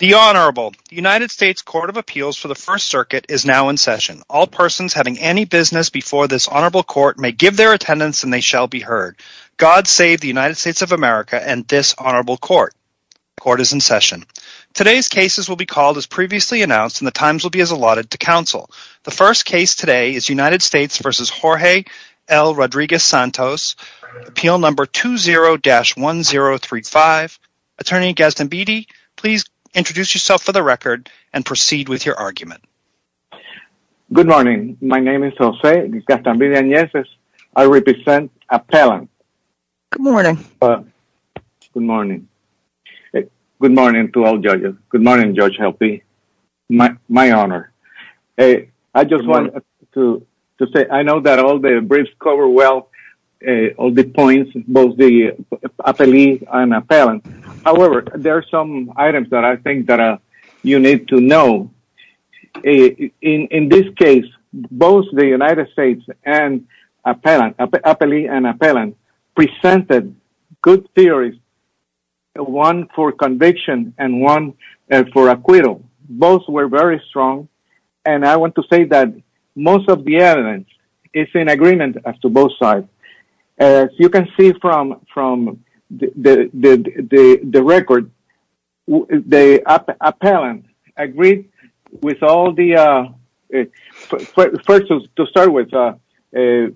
The Honorable United States Court of Appeals for the First Circuit is now in session. All persons having any business before this Honorable Court may give their attendance and they shall be heard. God save the United States of America and this Honorable Court. Court is in session. Today's cases will be called as previously announced and the times will be as allotted to counsel. The first case today is United States v. Jorge L. Rodriguez-Santos, Appeal No. 20-1035. Attorney Gaston Beatty, please introduce yourself for the record and proceed with your argument. Good morning. My name is Jose Gaston Beatty Agnese. I represent Appellant. Good morning. Good morning. Good morning to all judges. Good morning, Judge Helpe. My honor. I just wanted to say I know that all the briefs cover well all the points, both the appellee and appellant. However, there are some items that I think that you need to know. In this case, both the United States and appellant, appellee and appellant presented good theories, one for conviction and one for acquittal. Both were very strong and I want to say that most of the evidence is in agreement as to both sides. As you can see from the record, the appellant agreed with all the, first to start with, the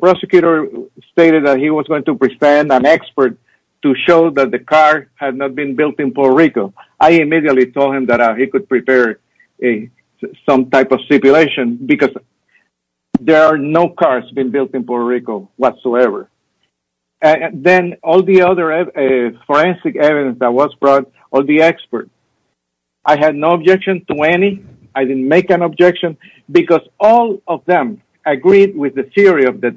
prosecutor stated that he was going to present an expert to show that the car had not been built in Puerto Rico. I immediately told him that he could prepare some type of stipulation because there are no cars built in Puerto Rico whatsoever. Then all the other forensic evidence that was brought, all the experts, I had no objection to any. I didn't make an objection because all of them agreed with the theory of there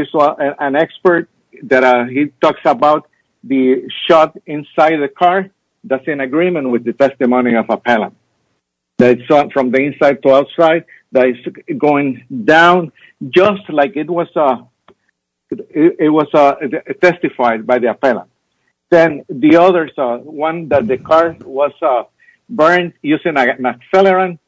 is an expert that he talks about the shot inside the car that's in agreement with the testimony of appellant. That's from the inside to outside, that is going down just like it was testified by the appellant. Then the others, one that the car was burned using a machine gun,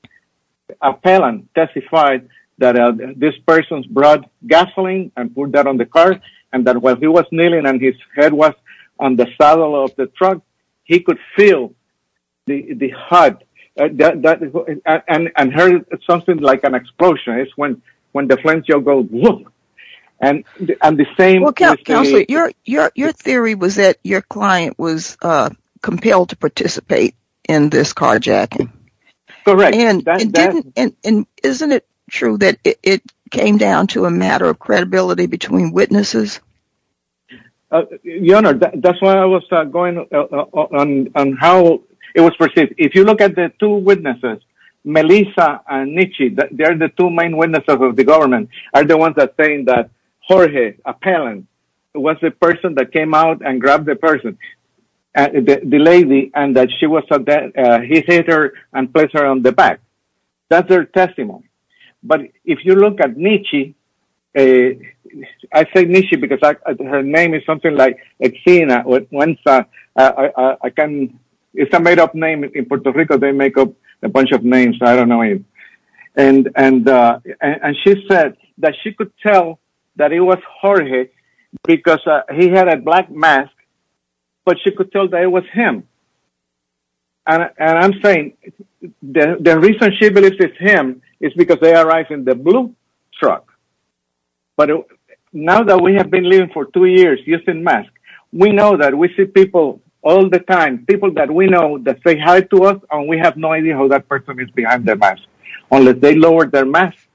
appellant testified that this person brought gasoline and put that on the car and that while he was kneeling and his head was on the saddle of the truck, he could feel the hot and heard something like an explosion. It's when the flamethrower goes and the same... Well Counselor, your theory was that your client was compelled to participate in this carjacking. Correct. Isn't it true that it came down to a matter of credibility between witnesses? Your Honor, that's why I was going on how it was perceived. If you look at the two witnesses, Melissa and Nietzsche, they are the two main witnesses of the government, are the ones that saying that Jorge, appellant, was the person that came out and grabbed the person, the lady, and that he hit her and placed her on the back. That's their testimony. But if you look at Nietzsche, I say Nietzsche because her name is something like Xena. It's a made up name in Puerto Rico. They make up a bunch of names. I don't know. And she said that she could tell that it was Jorge because he had a black mask, but she could tell that it was him. And I'm saying the reason she believes it's him is because they arrived in the blue truck. But now that we have been living for two years using masks, we know that we see people all the time, people that we know that say hi to us and we have no idea who is behind the mask, unless they lowered their mask.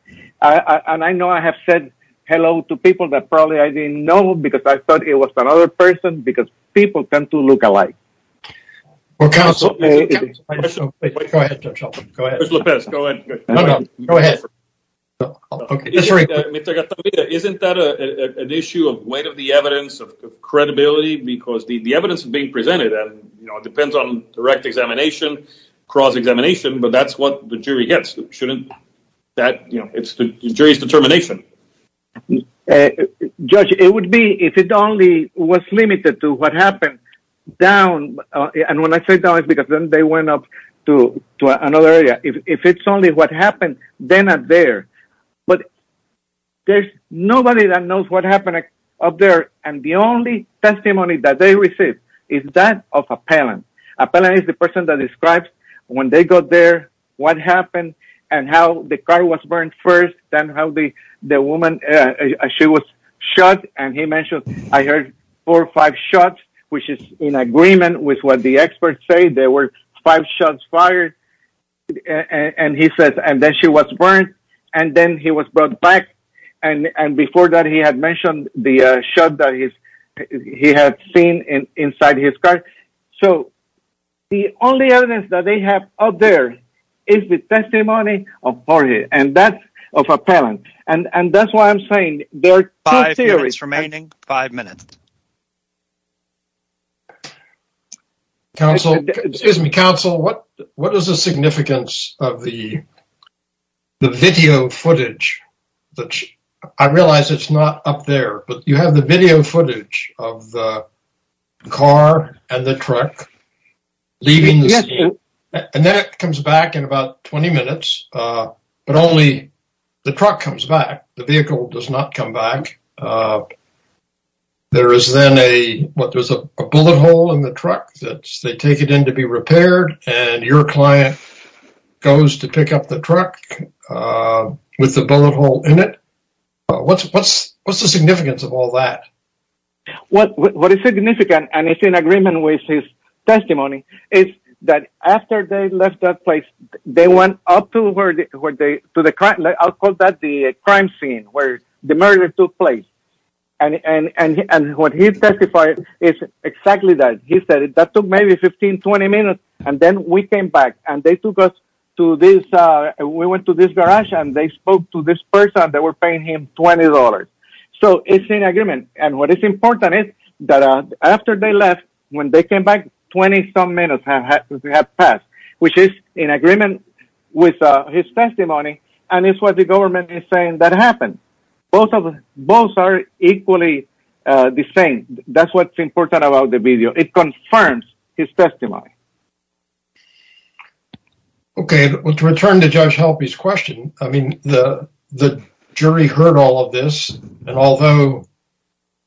And I know I have said hello to people that probably I didn't know because I thought it was another person because people tend to look alike. Well, counsel, go ahead. Go ahead. Go ahead. Isn't that an issue of weight of the evidence of credibility? Because the evidence being cross-examination, but that's what the jury gets. It's the jury's determination. Judge, it would be if it only was limited to what happened down. And when I say down, it's because then they went up to another area. If it's only what happened, they're not there. But there's nobody that knows what happened up there. And the only testimony that they received is that of appellant. Appellant is the person that describes when they got there, what happened, and how the car was burned first, then how the woman, she was shot. And he mentioned, I heard four or five shots, which is in agreement with what the experts say. There were five shots fired. And he says, and then she was burned. And then he was brought back. And before that, he had mentioned the shot that he had seen inside his car. So the only evidence that they have out there is the testimony of Jorge, and that's of appellant. And that's why I'm saying- Five minutes remaining. Five minutes. Counsel, excuse me, counsel, what is the significance of the video footage? But I realize it's not up there, but you have the video footage of the car and the truck leaving the scene. And then it comes back in about 20 minutes, but only the truck comes back. The vehicle does not come back. There is then a, what, there's a bullet hole in the truck that they take it in to be repaired. And your client goes to pick up the truck with the bullet hole in it. What's the significance of all that? What is significant, and it's in agreement with his testimony, is that after they left that place, they went up to where they, to the crime, I'll call that the crime scene where the murder took place. And what he testified is exactly that. He said that took maybe 15, 20 minutes, and then we came back and they took us to this, we went to this garage and they spoke to this person, they were paying him $20. So it's in agreement. And what is important is that after they left, when they came back, 20 some minutes had passed, which is in agreement with his testimony. And it's what the government is saying that happened. Both are equally the same. That's what's important about the video. It confirms his testimony. Okay. Well, to return to Judge Halpy's question, I mean, the jury heard all of this, and although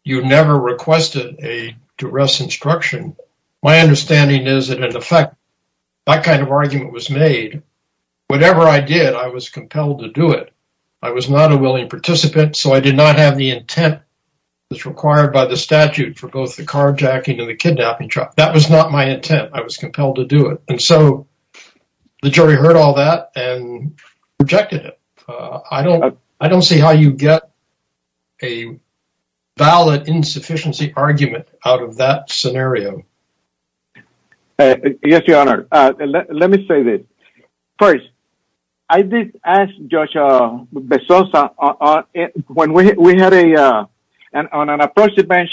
you never requested a duress instruction, my understanding is that in effect, that kind of argument was made. Whatever I did, I was compelled to do it. I was not a willing participant, so I did not have the intent that's required by the statute for both the carjacking and the kidnapping trial. That was not my intent. I was compelled to do it. And so the jury heard all that and rejected it. I don't see how you get a valid insufficiency argument out of that scenario. Yes, Your Honor. Let me say this. First, I did ask Judge Bezosa, when we had a, on an approach to the bench,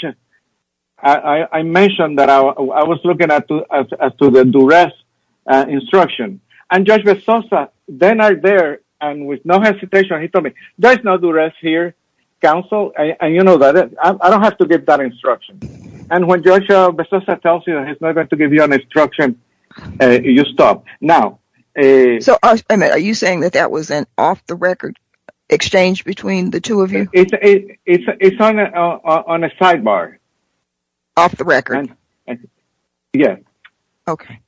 I mentioned that I was looking at to the duress instruction. And Judge Bezosa, then right there, and with no hesitation, he told me, there's no duress here, counsel, and you know that I don't have to give that instruction. And when Judge Bezosa tells you that he's not going to give you an instruction, you stop. Now, are you saying that that was an off-the-record exchange between the two of you? It's on a sidebar. Off the record? Yes. Okay.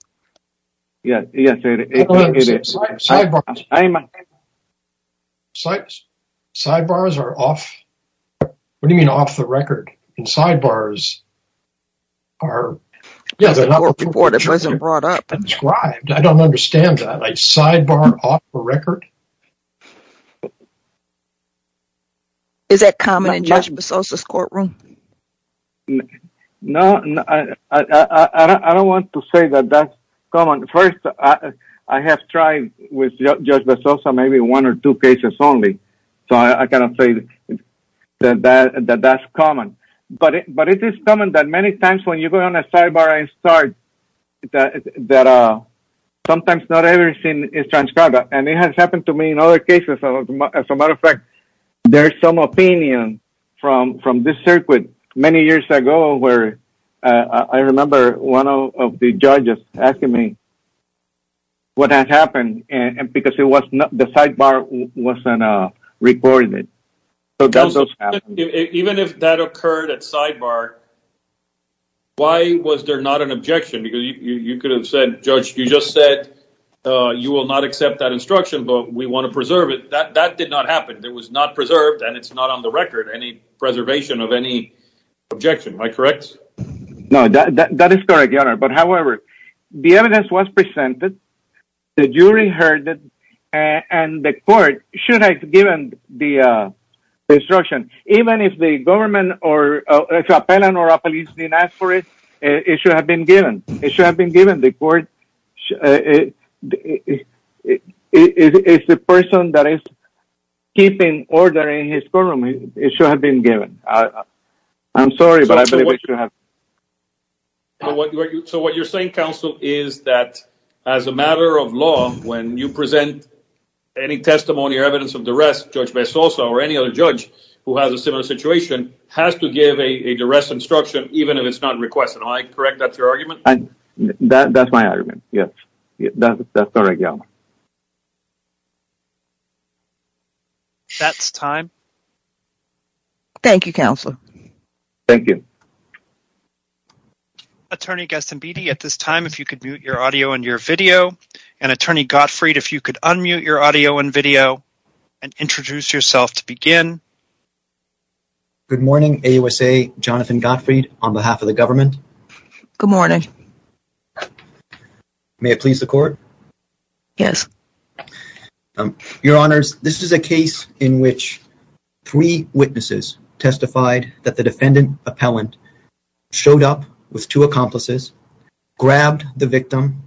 Sidebars are off, what do you mean off the record? And sidebars are, yeah, they're not understand that. Like sidebar off the record? Is that common in Judge Bezosa's courtroom? No, I don't want to say that that's common. First, I have tried with Judge Bezosa, maybe one or two cases only. So I cannot say that that's common. But it is common that many times when you go on a sidebar and start, that sometimes not everything is transcribed. And it has happened to me in other cases. As a matter of fact, there's some opinion from this circuit many years ago where I remember one of the judges asking me what had happened, because the sidebar wasn't recorded. So that does happen. Even if that occurred at sidebar, why was there not an objection? Because you could have said, Judge, you just said you will not accept that instruction, but we want to preserve it. That did not happen. It was not preserved and it's not on the record, any preservation of any objection. Am I correct? No, that is correct, Your Honor. But however, the evidence was presented, the jury heard it, and the court should have given the instruction. Even if the government or a police didn't ask for it, it should have been given. It should have been given. The court is the person that is keeping order in his courtroom. It should have been given. I'm sorry, but I believe it should have been. So what you're saying, counsel, is that as a matter of law, when you present any testimony or evidence of duress, Judge Bezoso or any other judge who has a similar situation has to give a duress instruction, even if it's not requested. Am I correct? That's your argument? That's my argument, yes. That's correct, Your Honor. That's time. Thank you, counsel. Thank you. Attorney Gustin Beattie, at this time, if you could mute your audio and your video, and Attorney Gottfried, if you could unmute your audio and video and introduce yourself to begin. Good morning, AUSA, Jonathan Gottfried, on behalf of the government. Good morning. Good morning. May it please the court? Yes. Your Honors, this is a case in which three witnesses testified that the defendant appellant showed up with two accomplices, grabbed the victim,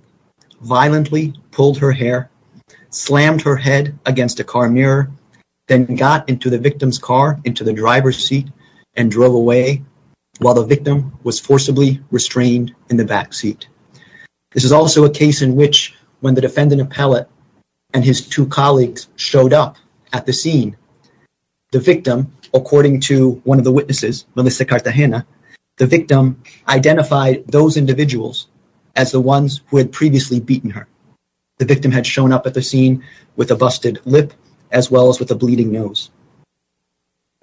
violently pulled her hair, slammed her head against a car mirror, then got into the victim's into the driver's seat and drove away while the victim was forcibly restrained in the back seat. This is also a case in which when the defendant appellant and his two colleagues showed up at the scene, the victim, according to one of the witnesses, Melissa Cartagena, the victim identified those individuals as the ones who had previously beaten her. The victim had shown up at the scene with a busted lip as well as with a bleeding nose.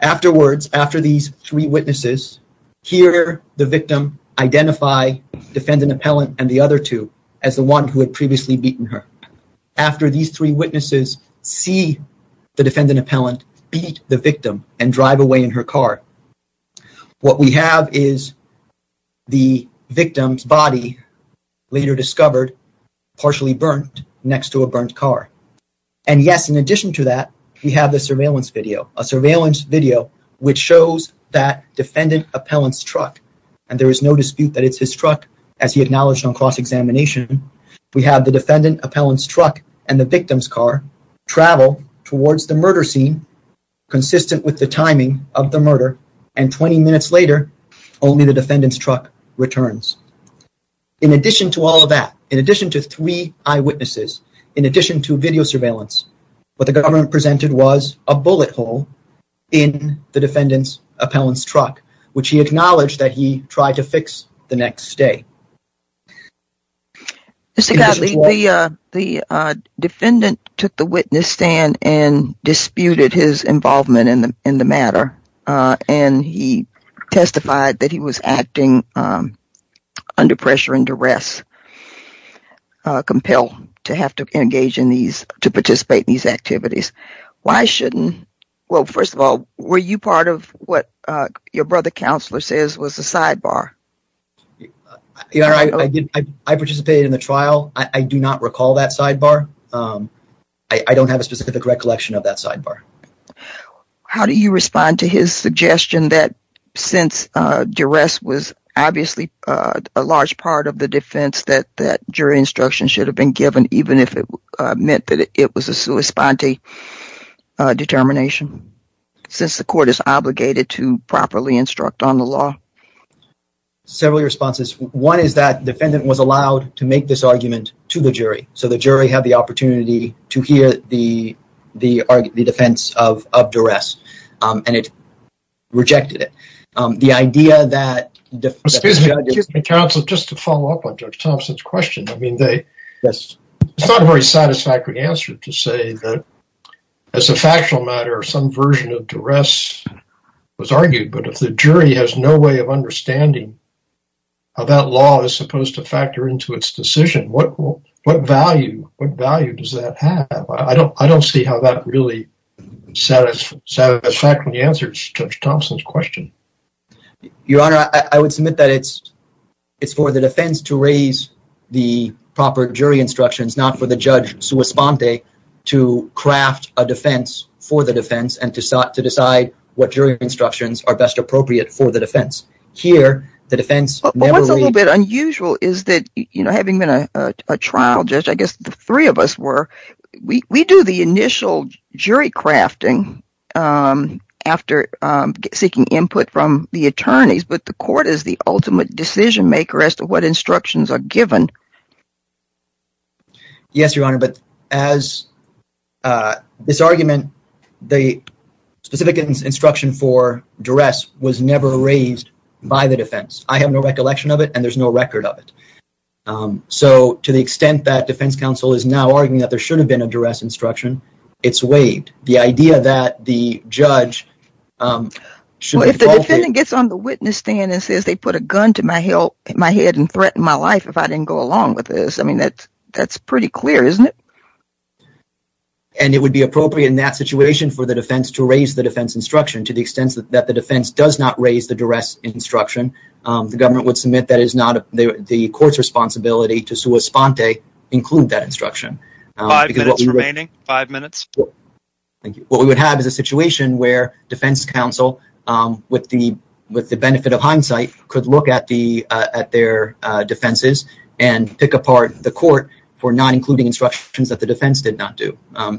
Afterwards, after these three witnesses, here the victim identify defendant appellant and the other two as the one who had previously beaten her. After these three witnesses see the defendant appellant beat the victim and drive away in her car, what we have is the victim's body later discovered partially burnt next to a burnt car. And yes, in addition to that, we have the surveillance video, a surveillance video which shows that defendant appellant's truck and there is no dispute that it's his truck as he acknowledged on cross-examination. We have the defendant appellant's truck and the victim's car travel towards the murder scene consistent with the timing of the murder and 20 minutes later only the defendant's truck returns. In addition to all of that, in addition to three eyewitnesses, in addition to video surveillance, what the government presented was a bullet hole in the defendant's appellant's truck which he acknowledged that he tried to fix the next day. Mr. Gottlieb, the defendant took the witness stand and disputed his involvement in the matter and he testified that he was acting under pressure and duress, compelled to have to engage in these, to participate in these activities. Why shouldn't, well first of all, were you part of what your brother counselor says was a sidebar? Your Honor, I participated in the trial. I do not recall that his suggestion that since duress was obviously a large part of the defense that that jury instruction should have been given even if it meant that it was a sua sponte determination since the court is obligated to properly instruct on the law. Several responses. One is that defendant was allowed to make this argument to the jury so the jury had the opportunity to hear the defense of duress and it rejected it. The idea that... Excuse me, counsel, just to follow up on Judge Thompson's question. I mean, it's not a very satisfactory answer to say that as a factual matter some version of duress was argued but if the jury has no way of understanding how that law is supposed to factor into its decision, what value does that have? I don't see how that really satisfied when you answered Judge Thompson's question. Your Honor, I would submit that it's for the defense to raise the proper jury instructions not for the judge sua sponte to craft a defense for the defense and to decide what jury instructions are best appropriate for the defense. Here, the defense... What's a little bit unusual is that, you know, having been a trial judge, I guess the three of us were, we do the initial jury crafting after seeking input from the attorneys but the court is the ultimate decision maker as to what instructions are given. Yes, Your Honor, but as this argument, the specific instruction for duress was never raised by the defense. I have no recollection of it and there's no record of it. So, to the extent that defense counsel is now arguing that there should have been a duress instruction, it's waived. The idea that the judge should... If the defendant gets on the witness stand and says they put a gun to my head and threatened my life if I didn't go along with this, I mean, that's pretty clear, isn't it? And it would be appropriate in that situation for the defense to raise the defense instruction to the extent that the defense does not raise the duress instruction. The government would submit that is not the court's responsibility to sua sponte include that instruction. Five minutes remaining. Five minutes. Thank you. What we would have is a situation where defense counsel with the benefit of hindsight could look at their defenses and pick apart the court for not including instructions that the defense did not do.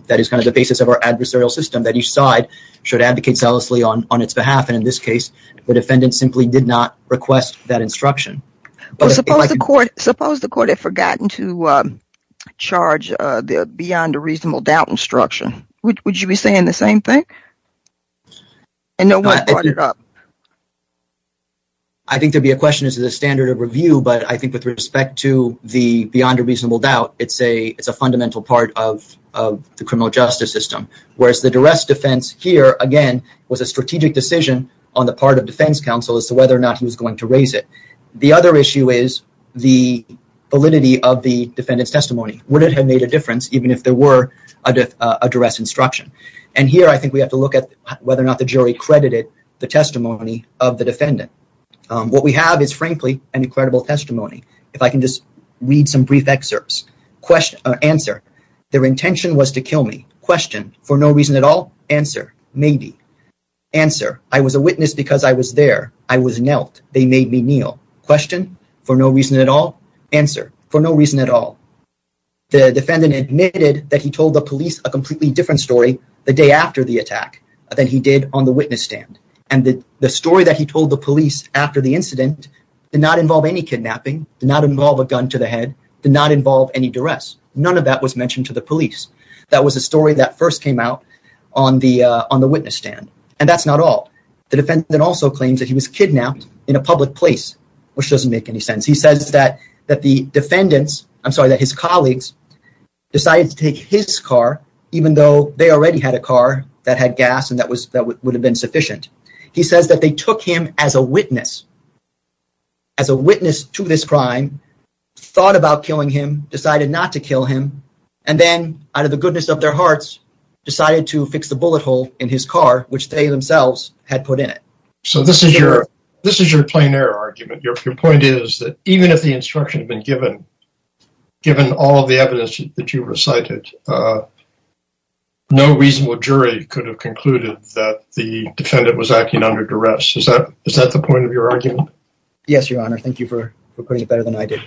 That is kind of the basis of our adversarial system that each side should advocate selflessly on its behalf. And in this case, the defendant simply did not request that instruction. Suppose the court had forgotten to charge the beyond a reasonable doubt instruction. Would you be saying the same thing? I think there'd be a question as to the standard of review, but I think with respect to the beyond a reasonable doubt, it's a fundamental part of the criminal justice system. Whereas the duress defense here, again, was a strategic decision on the part of defense counsel as to whether or not he was going to raise it. The other issue is the validity of the defendant's testimony. Would it have made a difference even if there were a duress instruction? And here, I think we have to look at whether or not the jury credited the testimony of the defendant. What we have is frankly an incredible testimony. If I can just read some brief excerpts. Answer. Their intention was to kill me. Question. For no reason at all. Answer. Maybe. Answer. I was a witness because I was there. I was knelt. They made me kneel. Question. For no reason at all. Answer. For no reason at all. The defendant admitted that he told the police a completely different story the day after the attack than he did on the witness stand. And the story that he told the police after the incident did not involve any kidnapping, did not involve a gun to the head, did not involve any duress. None of that was mentioned to the police. That was a story that first came out on the witness stand. And that's not all. The defendant also claims that he was kidnapped in a public place, which doesn't make any sense. He says that the defendants, I'm sorry, that his colleagues decided to take his car, even though they already had a car that had gas and that would have been sufficient. He says that they took him as a witness, as a witness to this crime, thought about killing him, decided not to kill him, and then out of the goodness of their hearts, decided to fix the bullet hole in his car, which they themselves had put in it. So this is your this is your plein air argument. Your point is that even if the instruction had been given, given all of the evidence that you recited, uh, no reasonable jury could have concluded that the defendant was acting under duress. Is that is that the point of your argument? Yes, your honor. Thank you for putting it better than I did.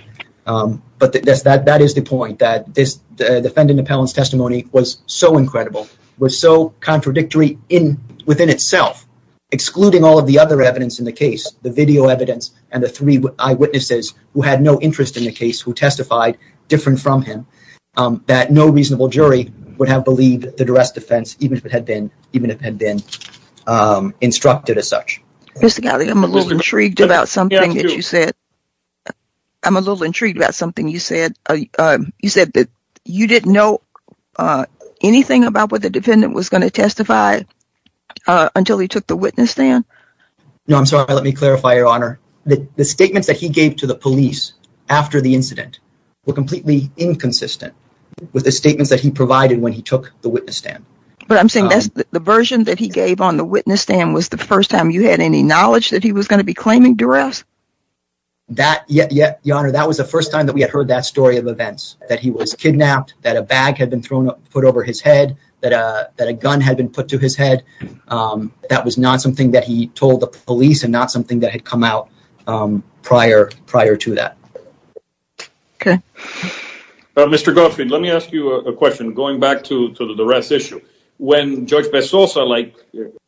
Um, but that is the point that this defendant appellant's testimony was so incredible, was so contradictory in within itself, excluding all of the other evidence in the case, the video evidence and the three eyewitnesses who had no interest in the case who testified different from him, um, that no reasonable jury would have believed the duress defense, even if it had been, even if had been, um, instructed as such. Mr. Galli, I'm a little intrigued about something that you said. I'm a little intrigued about something you said. You said that you didn't know, uh, anything about what the defendant was going to testify until he took the witness stand. No, I'm sorry. Let me clarify, your honor, the statements that he gave to the police after the incident were completely inconsistent with the statements that he provided when he took the witness stand. But I'm saying that's the version that he gave on the witness stand was the first time you had any knowledge that he was going to be claiming duress? That, yeah, yeah, your honor, that was the first time that we had heard that story of events, that he was kidnapped, that a bag had been thrown up, put over his head, that, uh, that a gun had been put to his head. Um, that was not something that he told the police and not something that had come out, um, prior, prior to that. Okay. Mr. Gottfried, let me ask you a question going back to the duress issue. When Judge Bessosa, like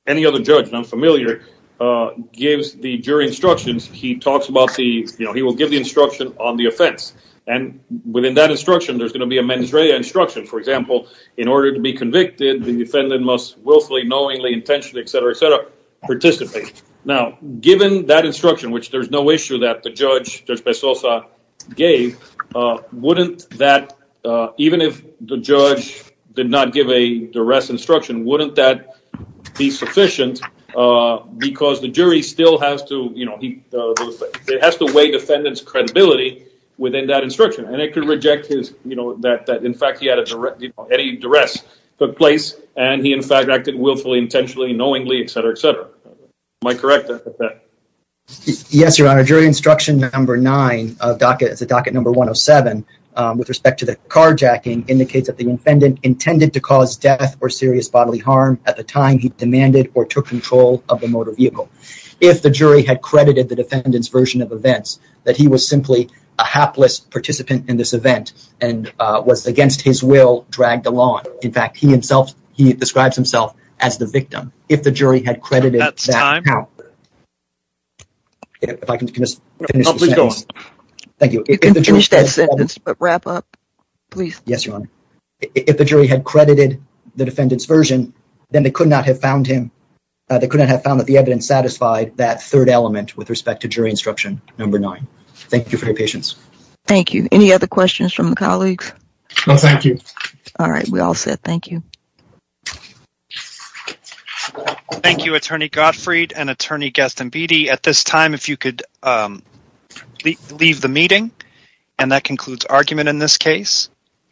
any other judge, I'm familiar, uh, gives the jury instructions, he talks about the, you know, he will give the instruction on the offense. And within that instruction, there's going to be a mens rea instruction. For example, in order to be convicted, the defendant must willfully, knowingly, intentionally, etc, etc, participate. Now, given that instruction, which there's no issue that the judge, Judge Bessosa, gave, uh, wouldn't that, uh, even if the judge did not give a duress instruction, wouldn't that be sufficient, uh, because the jury still has to, you know, he, uh, it has to weigh defendant's credibility within that instruction. And it could reject his, you know, that, that, in fact, he had any duress took place and he, in fact, acted willfully, intentionally, knowingly, etc, etc. Am I correct at that? Yes, your honor. Jury instruction number nine of docket, it's a docket number 107, um, with respect to the carjacking indicates that the defendant intended to cause death or serious bodily harm at the time he demanded or took control of the motor vehicle. If the jury had credited the defendant's version of events, that he was simply a hapless participant in this event and, uh, was against his will, dragged along. In fact, he himself, he describes himself as the victim. If the jury had credited, That's time. Now, if I can just finish this sentence. Thank you. You can finish that sentence, but wrap up, please. Yes, your honor. If the jury had credited the defendant's version, then they could not have found him, uh, they couldn't have found that the evidence satisfied that third element with respect to jury instruction number nine. Thank you for your patience. Thank you. Any other questions from the colleagues? No, thank you. All right. We all said, thank you. Thank you, attorney Gottfried and attorney Gaston Beatty at this time, if you could, um, leave the meeting and that concludes argument in this case.